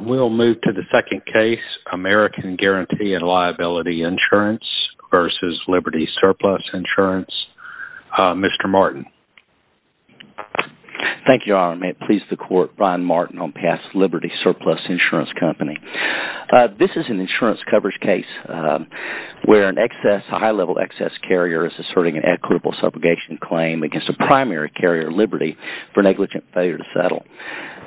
We'll move to the second case, American Guarantee & Liability Insurance v. Liberty Surplus Insurance. Mr. Martin. Thank you, Your Honor. May it please the Court, Brian Martin on past Liberty Surplus Insurance Company. This is an insurance coverage case where an excess, a high-level excess carrier is asserting an equitable subrogation claim against a primary carrier, Liberty, for negligent failure to settle.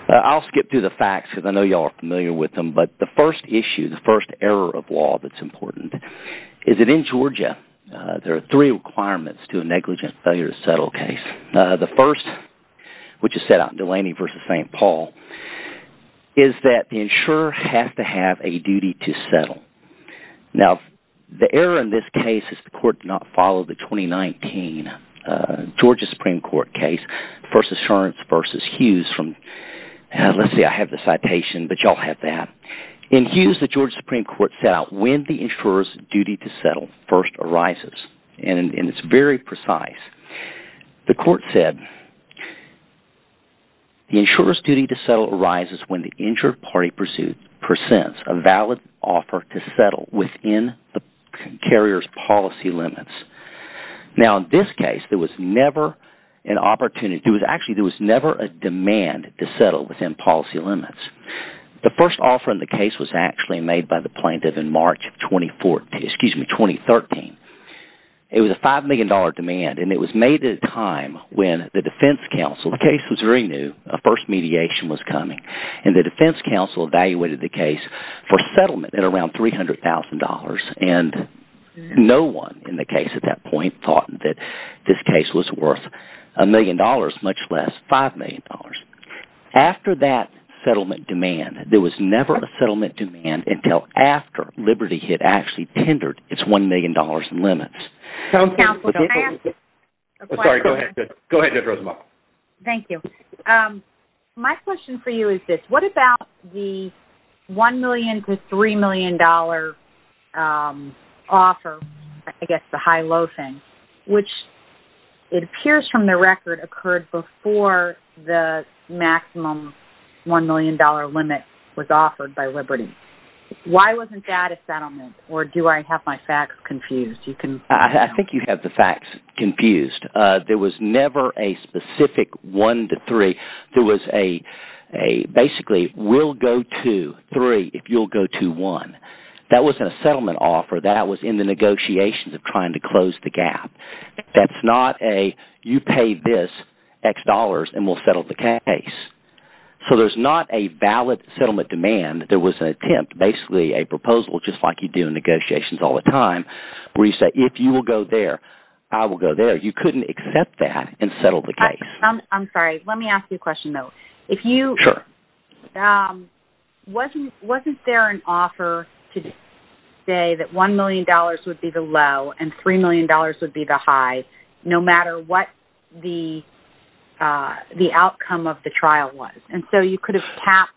I'll skip through the facts because I know you all are familiar with them, but the first issue, the first error of law that's important, is that in Georgia there are three requirements to a negligent failure to settle case. The first, which is set out in Delaney v. St. Paul, is that the insurer has to have a duty to settle. Now the error in this case is the Court did not follow the 2019 Georgia Supreme Court case, First Assurance v. Hughes from – let's see, I have the citation, but you all have that. In Hughes, the Georgia Supreme Court set out when the insurer's duty to settle first arises, and it's very precise. The Court said the insurer's duty to settle arises when the insured party presents a valid offer to settle within the carrier's policy limits. Now in this case, there was never an opportunity – actually, there was never a demand to settle within policy limits. The first offer in the case was actually made by the plaintiff in March of 2014 – excuse me, 2013. It was a $5 million demand, and it was made at a time when the defense counsel – the case was very new, a first mediation was coming, and the defense counsel evaluated the case for settlement at around $300,000, and no one in the case at that point thought that this case was worth $1 million, much less $5 million. After that settlement demand, there was never a settlement demand until after Liberty had actually tendered its $1 million in limits. Counsel, can I ask a question? Sorry, go ahead. Go ahead, Judge Rosenbaum. Thank you. My question for you is this. What about the $1 million to $3 million offer, I guess the high-low thing, which it appears from the record occurred before the maximum $1 million limit was offered by Liberty. Why wasn't that a settlement, or do I have my facts confused? I think you have the facts confused. There was never a specific one to three. There was a, basically, we'll go to three if you'll go to one. That wasn't a settlement offer. That was in the negotiations of trying to close the gap. That's not a, you pay this X dollars and we'll settle the case. So there's not a valid settlement demand. There was an attempt, basically a proposal, just like you do in negotiations all the time, where you say, if you will go there, I will go there. You couldn't accept that and settle the case. I'm sorry. Let me ask you a question, though. If you, wasn't there an offer to say that $1 million would be the low and $3 million would be the high, no matter what the outcome of the trial was? And so you could have capped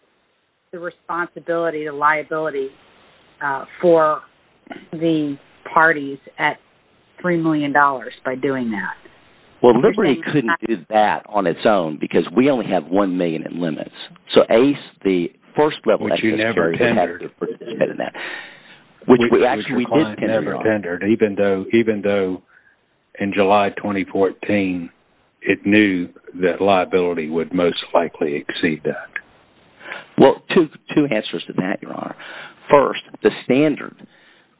the responsibility, the liability for the parties at $3 million by doing that. Well, Liberty couldn't do that on its own, because we only have $1 million in limits. So ACE, the first web- Which you never tendered. Which we actually did tender on. Even though, in July 2014, it knew that liability would most likely exceed that. Well, two answers to that, Your Honor. First, the standard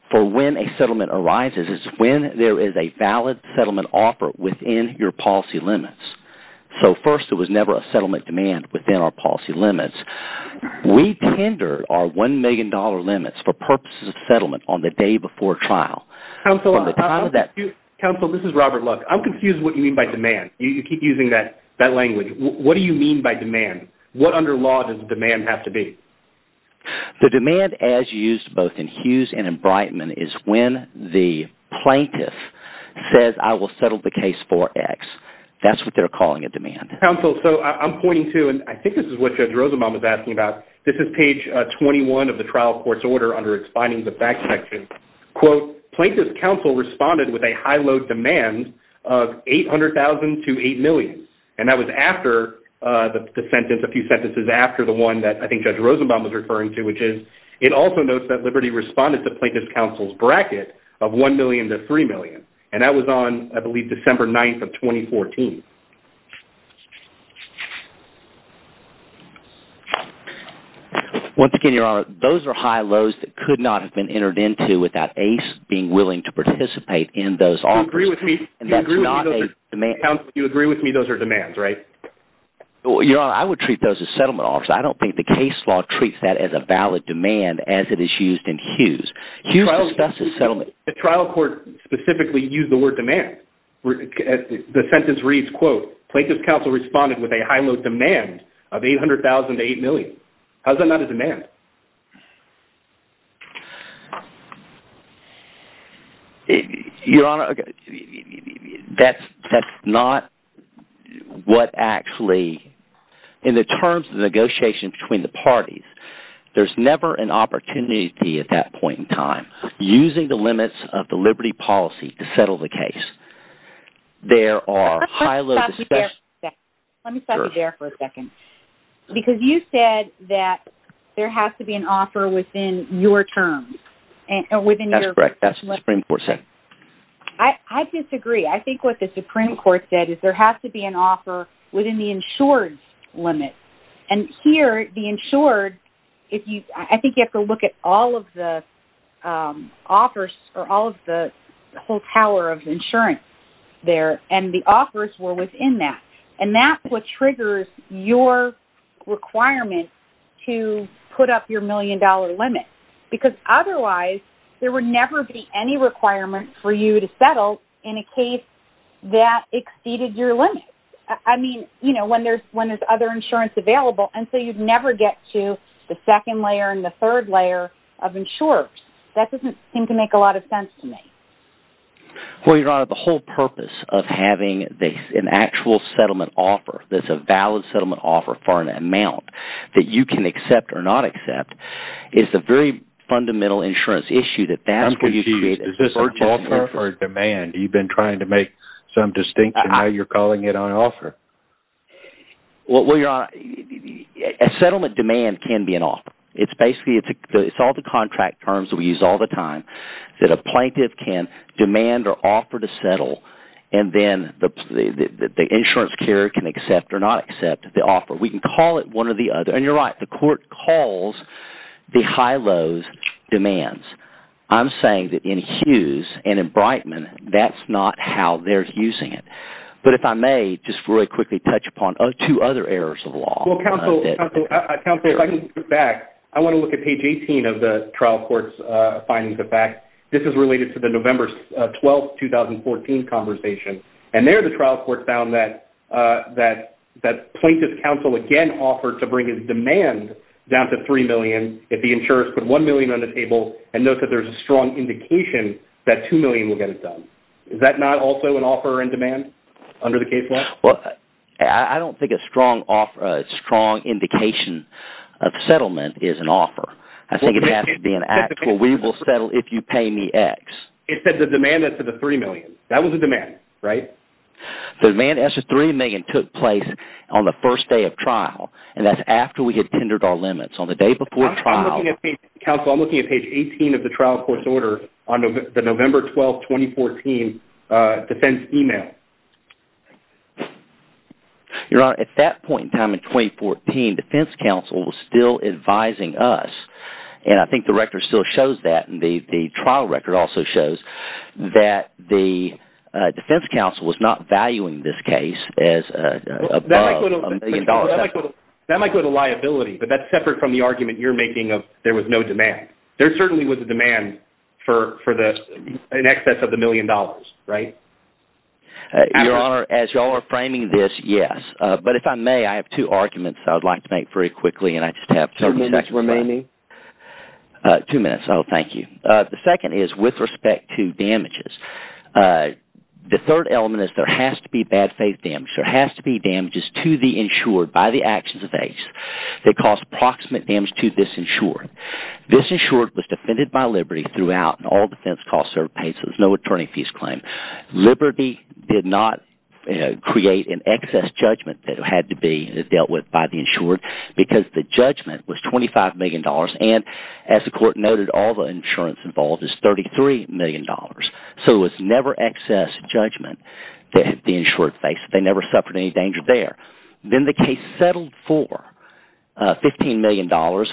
for when a settlement arises is when there is a valid settlement offer within your policy limits. So first, there was never a settlement demand within our policy limits. We tendered our $1 million limits for purposes of settlement on the day before trial. Counsel, this is Robert Luck. I'm confused what you mean by demand. You keep using that language. What do you mean by demand? What under law does demand have to be? The demand as used both in Hughes and in Breitman is when the plaintiff says, I will settle the case for X. That's what they're calling a demand. Counsel, so I'm pointing to, and I think this is what Judge Rosenbaum is asking about. This is page 21 of the trial court's order under expanding the fact section. Quote, plaintiff's counsel responded with a high load demand of $800,000 to $8 million. And that was after the sentence, a few sentences after the one that I think Judge Rosenbaum was referring to, which is, it also notes that Liberty responded to plaintiff's counsel's bracket of $1 million to $3 million. And that was on, I believe, December 9th of 2014. Once again, Your Honor, those are high loads that could not have been entered into without Ace being willing to participate in those offers. You agree with me those are demands, right? Your Honor, I would treat those as settlement offers. I don't think the case law treats that as a valid demand as it is used in Hughes. The trial court specifically used the word demand. The sentence reads, quote, plaintiff's counsel responded with a high load demand of $800,000 to $8 million. How is that not a demand? Your Honor, that's not what actually – in the terms of negotiation between the parties, there's never an opportunity at that point in time, using the limits of the Liberty policy to settle the case. There are high loads – Let me stop you there for a second. Because you said that there has to be an offer within your terms. That's correct. That's what the Supreme Court said. I disagree. I think what the Supreme Court said is there has to be an offer within the I think you have to look at all of the offers or all of the whole tower of insurance there. And the offers were within that. And that's what triggers your requirement to put up your million dollar limit. Because otherwise, there would never be any requirement for you to settle in a case that exceeded your limit. I mean, when there's other insurance available. And so you'd never get to the second layer and the third layer of insurers. That doesn't seem to make a lot of sense to me. Well, Your Honor, the whole purpose of having an actual settlement offer that's a valid settlement offer for an amount that you can accept or not accept is the very fundamental insurance issue that that's what you created. Is this an offer or a demand? You've been trying to make some distinction now you're calling it an offer. Well, Your Honor, a settlement demand can be an offer. It's basically all the contract terms we use all the time that a plaintiff can demand or offer to settle. And then the insurance carrier can accept or not accept the offer. We can call it one or the other. And you're right. The court calls the high lows demands. I'm saying that in Hughes and in Brightman, that's not how they're using it. But if I may just really quickly touch upon two other errors of the law. Well, counsel, if I can go back, I want to look at page 18 of the trial court's findings of fact. This is related to the November 12, 2014 conversation. And there the trial court found that plaintiff's counsel again offered to bring his demand down to $3 million if the insurers put $1 million on the table and note that there's a strong indication that $2 million will get it done. Is that not also an offer in demand under the case law? Well, I don't think a strong indication of settlement is an offer. I think it has to be an act where we will settle if you pay me X. It said the demand is to the $3 million. That was a demand, right? The demand is to the $3 million took place on the first day of trial. And that's after we had tendered our limits on the day before trial. Counsel, I'm looking at page 18 of the trial court's order on the November 12, 2014 defense email. Your Honor, at that point in time in 2014, defense counsel was still advising us. And I think the record still shows that. And the trial record also shows that the defense counsel was not valuing this case as above $1 million. That might go to liability, but that's separate from the argument you're making of there was no demand. There certainly was a demand for an excess of the $1 million, right? Your Honor, as you all are framing this, yes. But if I may, I have two arguments I would like to make very quickly. Two minutes remaining. Two minutes. Oh, thank you. The second is with respect to damages. The third element is there has to be bad faith damage. There has to be damages to the insured by the actions of AIDS. They cause proximate damage to this insured. This insured was defended by Liberty throughout, and all defense costs are paid, so there's no attorney fees claim. Liberty did not create an excess judgment that had to be dealt with by the insured because the judgment was $25 million, and as the court noted, all the insurance involved is $33 million. So it was never excess judgment that the insured faced. They never suffered any danger there. Then the case settled for $15 million,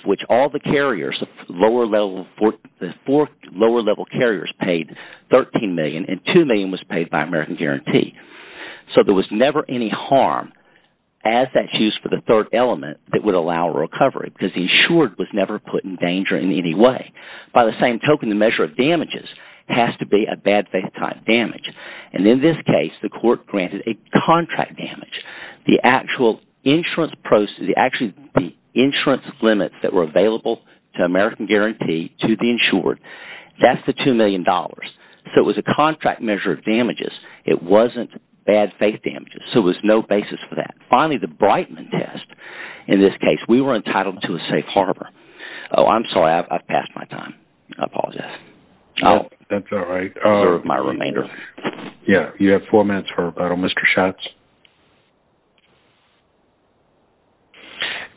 which all the carriers, the four lower-level carriers paid $13 million, and $2 million was paid by American Guarantee. So there was never any harm as that's used for the third element that would allow recovery because the insured was never put in danger in any way. By the same token, the measure of damages has to be a bad faith type damage, and in this case, the court granted a contract damage. The actual insurance process, the insurance limits that were available to American Guarantee So it was a contract measure of damages. It wasn't bad faith damages, so there was no basis for that. Finally, the Breitman test. In this case, we were entitled to a safe harbor. Oh, I'm sorry. I've passed my time. I apologize. Oh, that's all right. My remainder. Yeah, you have four minutes for rebuttal. Mr. Schatz?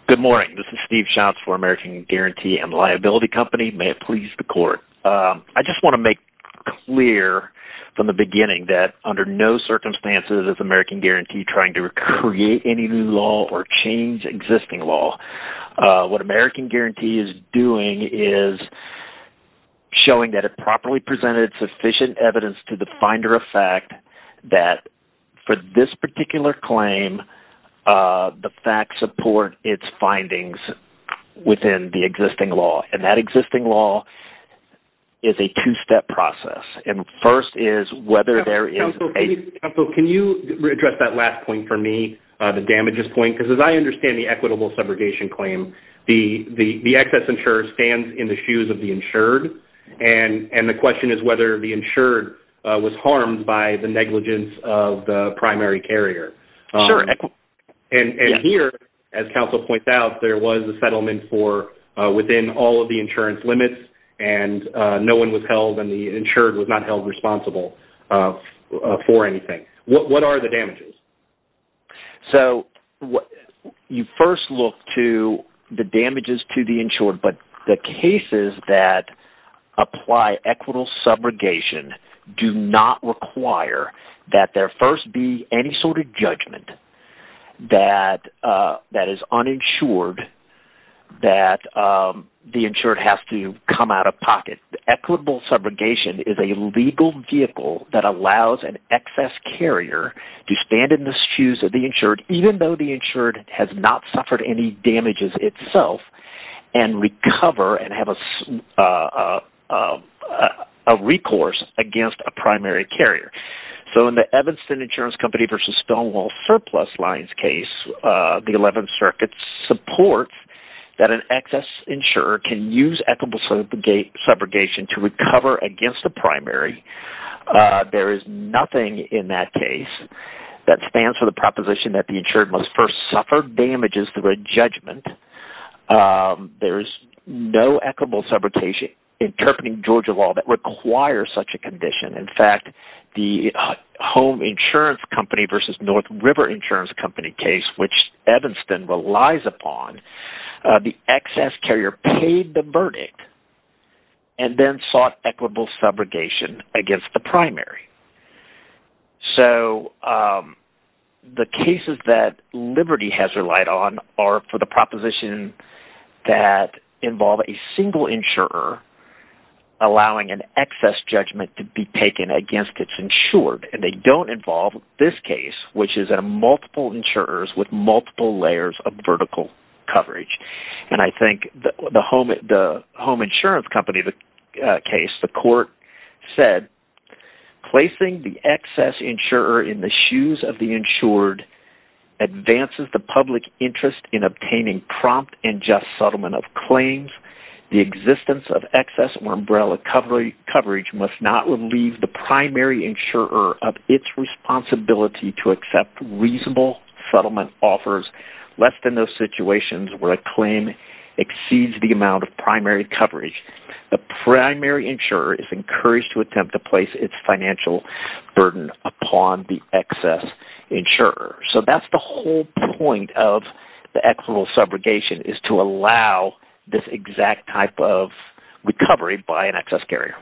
Good morning. This is Steve Schatz for American Guarantee and Liability Company. May it please the court. I just want to make clear from the beginning that under no circumstances is American Guarantee trying to create any new law or change existing law. What American Guarantee is doing is showing that it properly presented sufficient evidence to the finder of fact that for this particular claim, the facts support its findings within the existing law, and that existing law is a two-step process. First is whether there is a... Counsel, can you address that last point for me, the damages point? Because as I understand the equitable segregation claim, the excess insurer stands in the shoes of the insured, and the question is whether the insured was harmed by the negligence of the primary carrier. Sure. And here, as counsel points out, there was a settlement for within all of the insurance limits, and no one was held, and the insured was not held responsible for anything. What are the damages? So you first look to the damages to the insured, but the cases that apply equitable segregation do not require that there first be any sort of judgment that is uninsured that the insured has to come out of pocket. Equitable segregation is a legal vehicle that allows an excess carrier to stand in the shoes of the insured, even though the insured has not suffered any damages itself, and recover and have a recourse against a primary carrier. So in the Evanston Insurance Company v. Stonewall Surplus Lines case, the 11th Circuit supports that an excess insurer can use equitable segregation to recover against the primary. There is nothing in that case that stands for the proposition that the insured must first suffer damages through a judgment. There is no equitable segregation interpreting Georgia law that requires such a condition. In fact, the Home Insurance Company v. North River Insurance Company case, which Evanston relies upon, the excess carrier paid the verdict and then sought equitable segregation against the primary. So the cases that Liberty has relied on are for the proposition that involve a single insurer allowing an excess judgment to be taken against its insured. And they don't involve this case, which is multiple insurers with multiple layers of vertical coverage. And I think the Home Insurance Company case, the court said, placing the excess insurer in the shoes of the insured advances the public interest in obtaining prompt and just settlement of claims. The existence of excess or umbrella coverage must not relieve the primary insurer of its responsibility to accept reasonable settlement offers less than those situations where a claim exceeds the amount of primary coverage. The primary insurer is encouraged to attempt to place its financial burden upon the excess insurer. So that's the whole point of the equitable segregation is to allow this exact type of recovery by an excess carrier.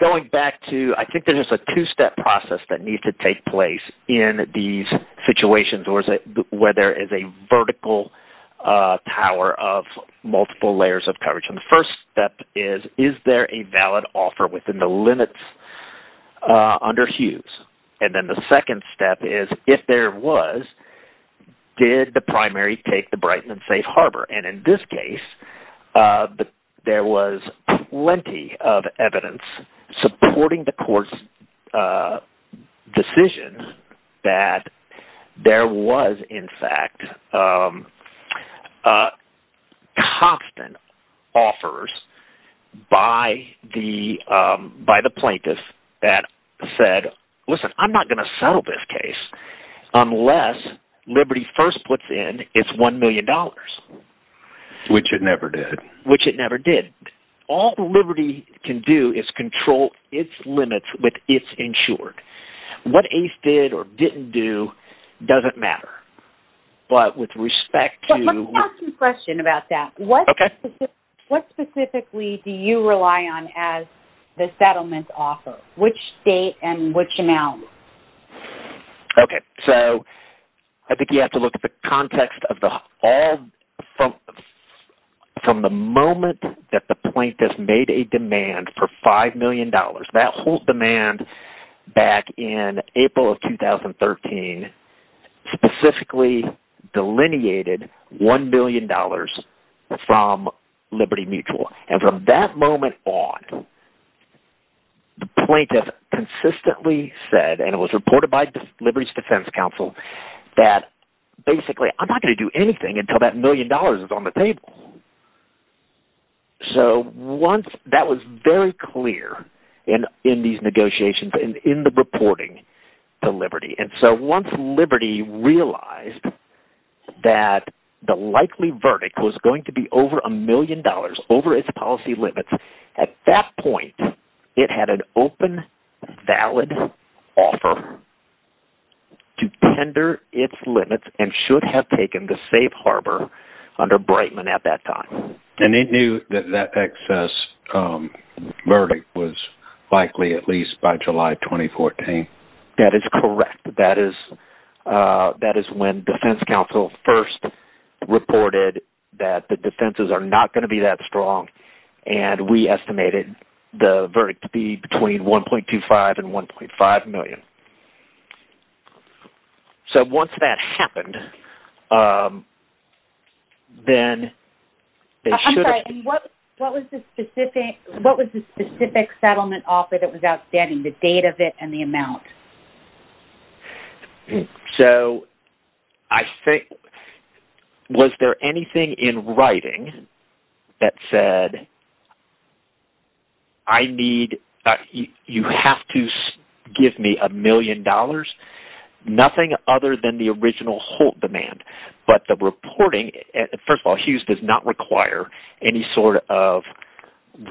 Going back to, I think there's a two-step process that needs to take place in these situations where there is a vertical tower of multiple layers of coverage. And the first step is, is there a valid offer within the limits under Hughes? And then the second step is, if there was, did the primary take the Brightman Safe Harbor? And in this case, there was plenty of evidence supporting the court's decision that there was, in fact, offers by the plaintiff that said, listen, I'm not going to settle this case unless Liberty first puts in its $1 million. Which it never did. Which it never did. All Liberty can do is control its limits with its insured. What ACE did or didn't do doesn't matter. But with respect to... Let me ask you a question about that. Okay. What specifically do you rely on as the settlement offer? Which date and which amount? Okay. So I think you have to look at the context of all from the moment that the plaintiff made a demand for $5 million. That whole demand back in April of 2013 specifically delineated $1 million from Liberty Mutual. And from that moment on, the plaintiff consistently said, and it was reported by Liberty's defense counsel, that basically, I'm not going to do anything until that million dollars is on the table. So once – that was very clear in these negotiations and in the reporting to Liberty. And so once Liberty realized that the likely verdict was going to be over $1 million, over its policy limits, at that point, it had an open, valid offer to tender its limits and should have taken the safe harbor under Brightman at that time. And it knew that that excess verdict was likely at least by July 2014? That is correct. That is when defense counsel first reported that the defenses are not going to be that strong. And we estimated the verdict to be between $1.25 and $1.5 million. So once that happened, then they should have – I'm sorry. What was the specific settlement offer that was outstanding, the date of it and the amount? So I think – was there anything in writing that said, I need – you have to give me $1 million? Nothing other than the original Holt demand, but the reporting – first of all, Hughes does not require any sort of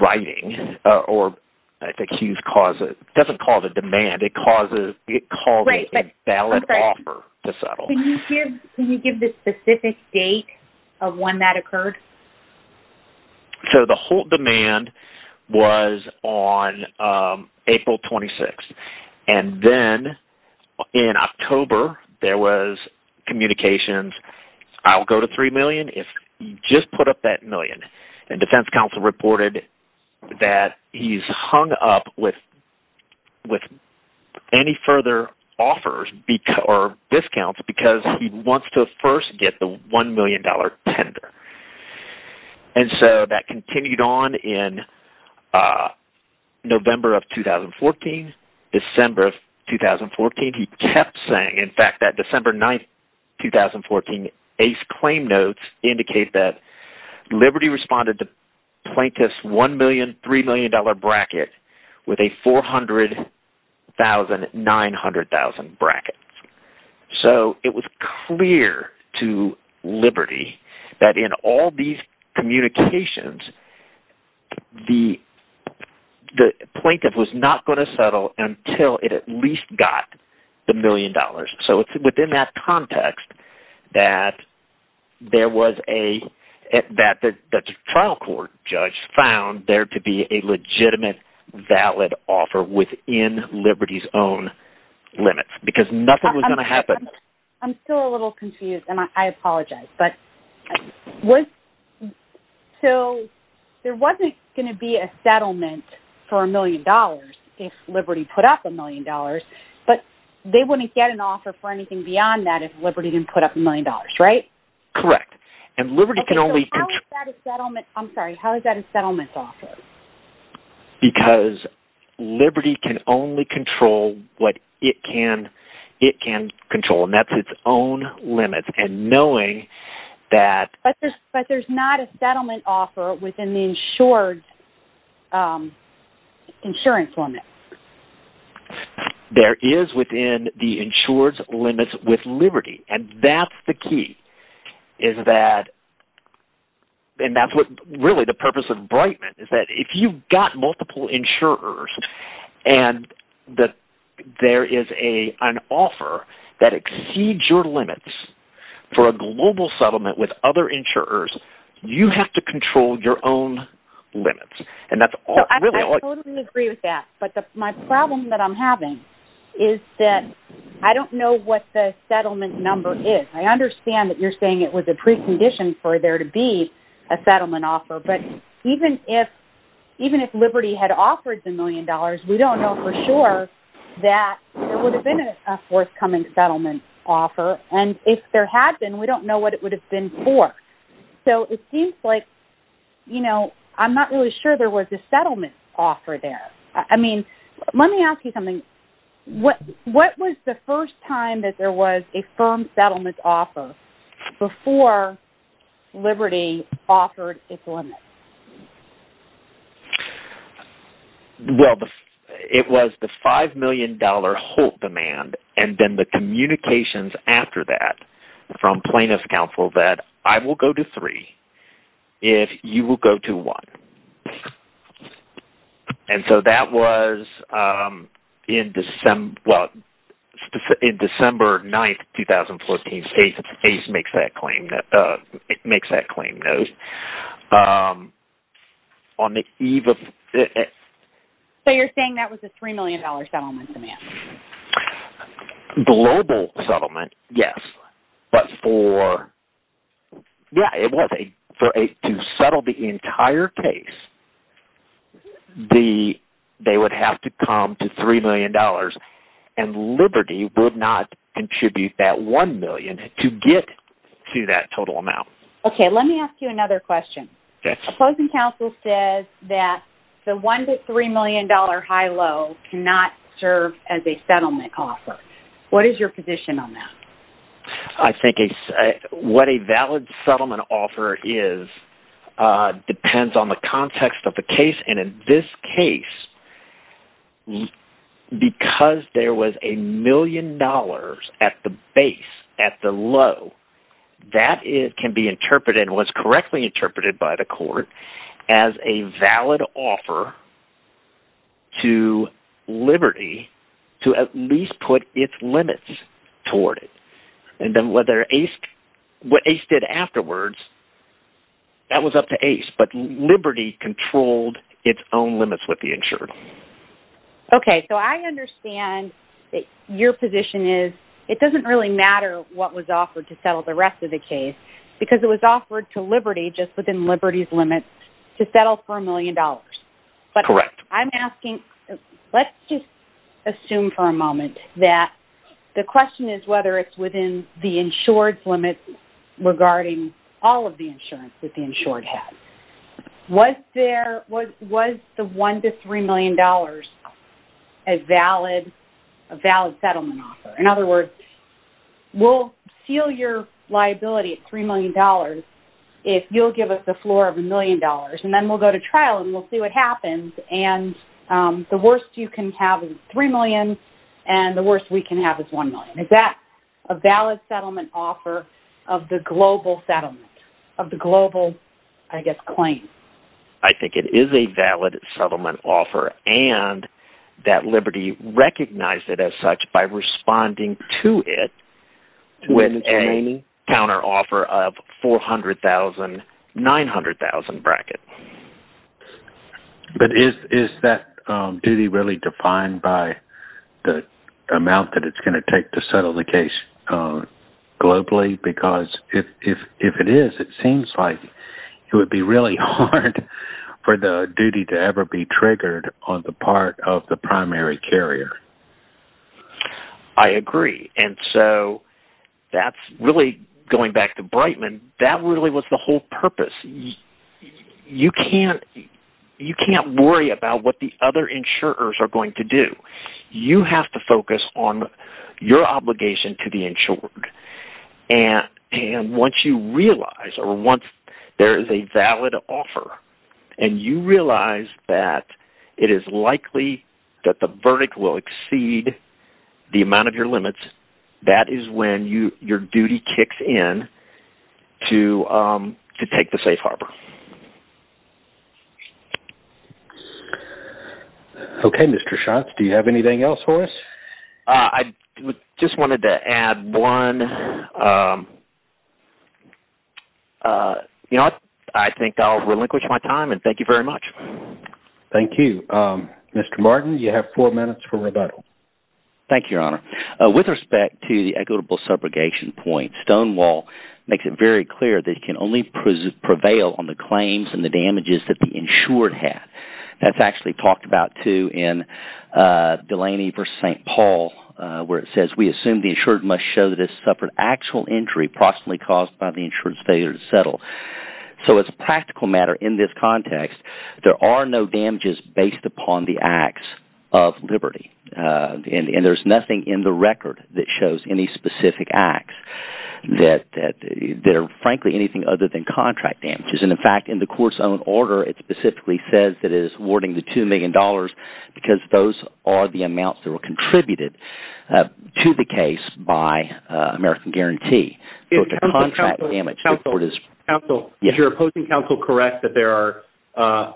writing. I think Hughes doesn't call it a demand. It calls it a valid offer to settle. Can you give the specific date of when that occurred? So the Holt demand was on April 26. And then in October, there was communications. I'll go to $3 million if you just put up that million. And defense counsel reported that he's hung up with any further offers or discounts because he wants to first get the $1 million tender. And so that continued on in November of 2014, December of 2014. And he kept saying, in fact, that December 9, 2014, Ace Claim Notes indicate that Liberty responded to plaintiff's $1 million, $3 million bracket with a $400,000, $900,000 bracket. So it was clear to Liberty that in all these communications, the plaintiff was not going to settle until it at least got the million dollars. So it's within that context that there was a – that the trial court judge found there to be a legitimate, valid offer within Liberty's own limits… I'm still a little confused, and I apologize. But was – so there wasn't going to be a settlement for $1 million if Liberty put up $1 million. But they wouldn't get an offer for anything beyond that if Liberty didn't put up $1 million, right? Correct. And Liberty can only… Okay, so how is that a settlement? I'm sorry. How is that a settlement offer? Because Liberty can only control what it can control, and that's its own limits. And knowing that… But there's not a settlement offer within the insured's insurance limit. There is within the insured's limits with Liberty, and that's the key, is that – and that's what really the purpose of Brightman is that if you've got multiple insurers and that there is an offer that exceeds your limits for a global settlement with other insurers, you have to control your own limits. I totally agree with that, but my problem that I'm having is that I don't know what the settlement number is. I understand that you're saying it was a precondition for there to be a settlement offer, but even if Liberty had offered $1 million, we don't know for sure that there would have been a forthcoming settlement offer. And if there had been, we don't know what it would have been for. So it seems like I'm not really sure there was a settlement offer there. I mean, let me ask you something. What was the first time that there was a firm settlement offer before Liberty offered its limits? Well, it was the $5 million Holt demand and then the communications after that from plaintiff's counsel that I will go to three if you will go to one. And so that was in December 9, 2014. ACE makes that claim. So you're saying that was a $3 million settlement demand? Global settlement, yes. But to settle the entire case, they would have to come to $3 million and Liberty would not contribute that $1 million to get to that total amount. Okay, let me ask you another question. Opposing counsel says that the $1 to $3 million high-low cannot serve as a settlement offer. What is your position on that? I think what a valid settlement offer is depends on the context of the case. And in this case, because there was a million dollars at the base, at the low, that can be interpreted and was correctly interpreted by the court as a valid offer to Liberty to at least put its limits toward it. And then what ACE did afterwards, that was up to ACE, but Liberty controlled its own limits with the insurer. Okay, so I understand that your position is it doesn't really matter what was offered to settle the rest of the case because it was offered to Liberty just within Liberty's limits to settle for a million dollars. Correct. But I'm asking, let's just assume for a moment that the question is whether it's within the insured's limits regarding all of the insurance that the insured has. Was the $1 to $3 million a valid settlement offer? In other words, we'll seal your liability at $3 million if you'll give us a floor of a million dollars, and then we'll go to trial and we'll see what happens. And the worst you can have is $3 million, and the worst we can have is $1 million. Is that a valid settlement offer of the global settlement, of the global, I guess, claim? I think it is a valid settlement offer, and that Liberty recognized it as such by responding to it with a counteroffer of $400,000, $900,000 bracket. But is that duty really defined by the amount that it's going to take to settle the case globally? Because if it is, it seems like it would be really hard for the duty to ever be triggered on the part of the primary carrier. I agree. And so that's really, going back to Brightman, that really was the whole purpose. You can't worry about what the other insurers are going to do. You have to focus on your obligation to the insured. And once you realize, or once there is a valid offer, and you realize that it is likely that the verdict will exceed the amount of your limits, that is when your duty kicks in to take the safe harbor. Okay, Mr. Schatz, do you have anything else for us? I just wanted to add one. I think I'll relinquish my time, and thank you very much. Thank you. Mr. Martin, you have four minutes for rebuttal. Thank you, Your Honor. With respect to the equitable subrogation point, Stonewall makes it very clear that it can only prevail on the claims and the damages that the insured have. That's actually talked about too in Delaney v. St. Paul, where it says, we assume the insured must show that it has suffered actual injury possibly caused by the insured's failure to settle. So as a practical matter in this context, there are no damages based upon the acts of liberty. And there's nothing in the record that shows any specific acts that are frankly anything other than contract damages. And in fact, in the court's own order, it specifically says that it is awarding the $2 million because those are the amounts that were contributed to the case by American Guarantee. Counsel, is your opposing counsel correct that there are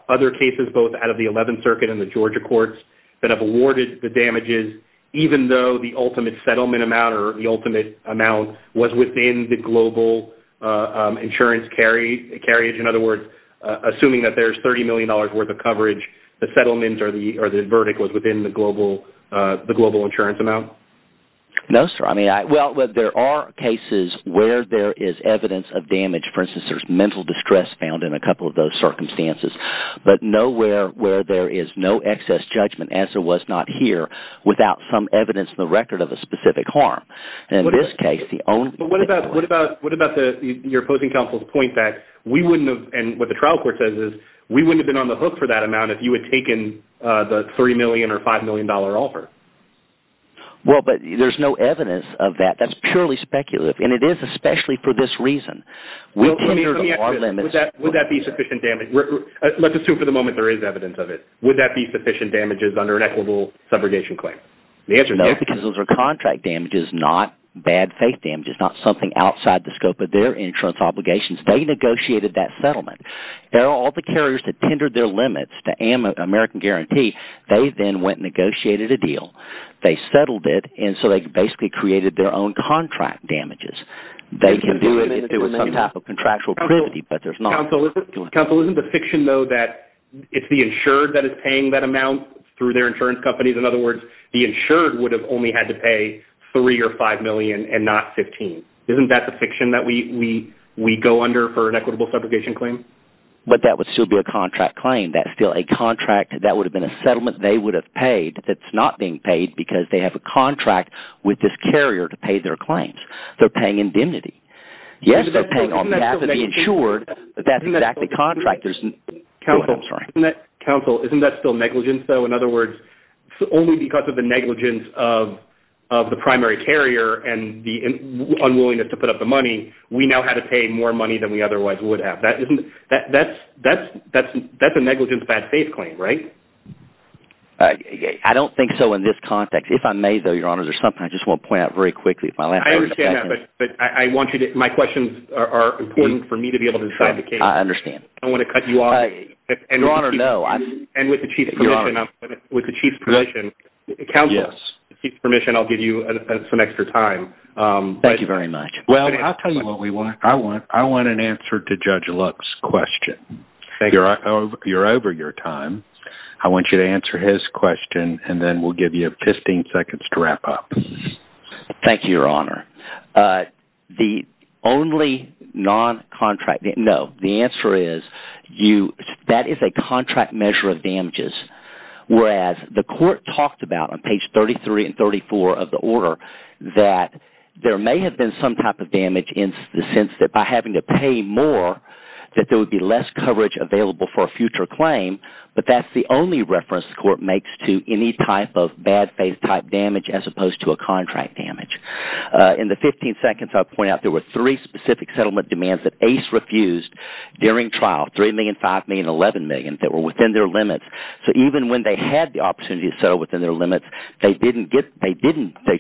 other cases both out of the 11th Circuit and the Georgia courts that have awarded the damages even though the ultimate settlement amount or the ultimate amount was within the global insurance carriage? In other words, assuming that there's $30 million worth of coverage, the settlement or the verdict was within the global insurance amount? No, sir. I mean, well, there are cases where there is evidence of damage. For instance, there's mental distress found in a couple of those circumstances. But nowhere where there is no excess judgment as there was not here without some evidence in the record of a specific harm. In this case, the only – But what about your opposing counsel's point that we wouldn't have – and what the trial court says is we wouldn't have been on the hook for that amount if you had taken the $30 million or $5 million offer? Well, but there's no evidence of that. That's purely speculative, and it is especially for this reason. Let me ask this. Would that be sufficient damage? Let's assume for the moment there is evidence of it. Would that be sufficient damages under an equitable subrogation claim? The answer is yes. No, because those are contract damages, not bad faith damages, not something outside the scope of their insurance obligations. They negotiated that settlement. They're all the carriers that tendered their limits to American Guarantee. They then went and negotiated a deal. They settled it, and so they basically created their own contract damages. They can do it if there was some type of contractual privity, but there's not. Counsel, isn't the fiction, though, that it's the insured that is paying that amount through their insurance companies? In other words, the insured would have only had to pay $3 million or $5 million and not $15 million. Isn't that the fiction that we go under for an equitable subrogation claim? But that would still be a contract claim. That would have been a settlement they would have paid that's not being paid because they have a contract with this carrier to pay their claims. They're paying indemnity. Yes, they're paying on behalf of the insured, but that's exactly contract. Counsel, isn't that still negligence, though? In other words, only because of the negligence of the primary carrier and the unwillingness to put up the money, we now had to pay more money than we otherwise would have. That's a negligence-bad-faith claim, right? I don't think so in this context. If I may, though, Your Honor, there's something I just want to point out very quickly. I understand that, but I want you to – my questions are important for me to be able to decide the case. I understand. I don't want to cut you off. Your Honor, no. And with the chief's permission, counsel, with the chief's permission, I'll give you some extra time. Thank you very much. Well, I'll tell you what we want. I want an answer to Judge Luck's question. You're over your time. I want you to answer his question, and then we'll give you 15 seconds to wrap up. Thank you, Your Honor. The only non-contract – no. The answer is that is a contract measure of damages, whereas the court talked about on page 33 and 34 of the order that there may have been some type of damage in the sense that by having to pay more that there would be less coverage available for a future claim. But that's the only reference the court makes to any type of bad faith type damage as opposed to a contract damage. In the 15 seconds I'll point out, there were three specific settlement demands that Ace refused during trial, $3 million, $5 million, and $11 million that were within their limits. So even when they had the opportunity to settle within their limits, they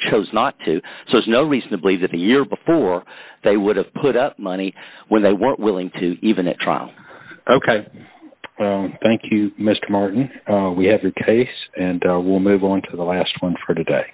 chose not to. So there's no reason to believe that the year before, they would have put up money when they weren't willing to, even at trial. Okay. Thank you, Mr. Martin. We have your case, and we'll move on to the last one for today.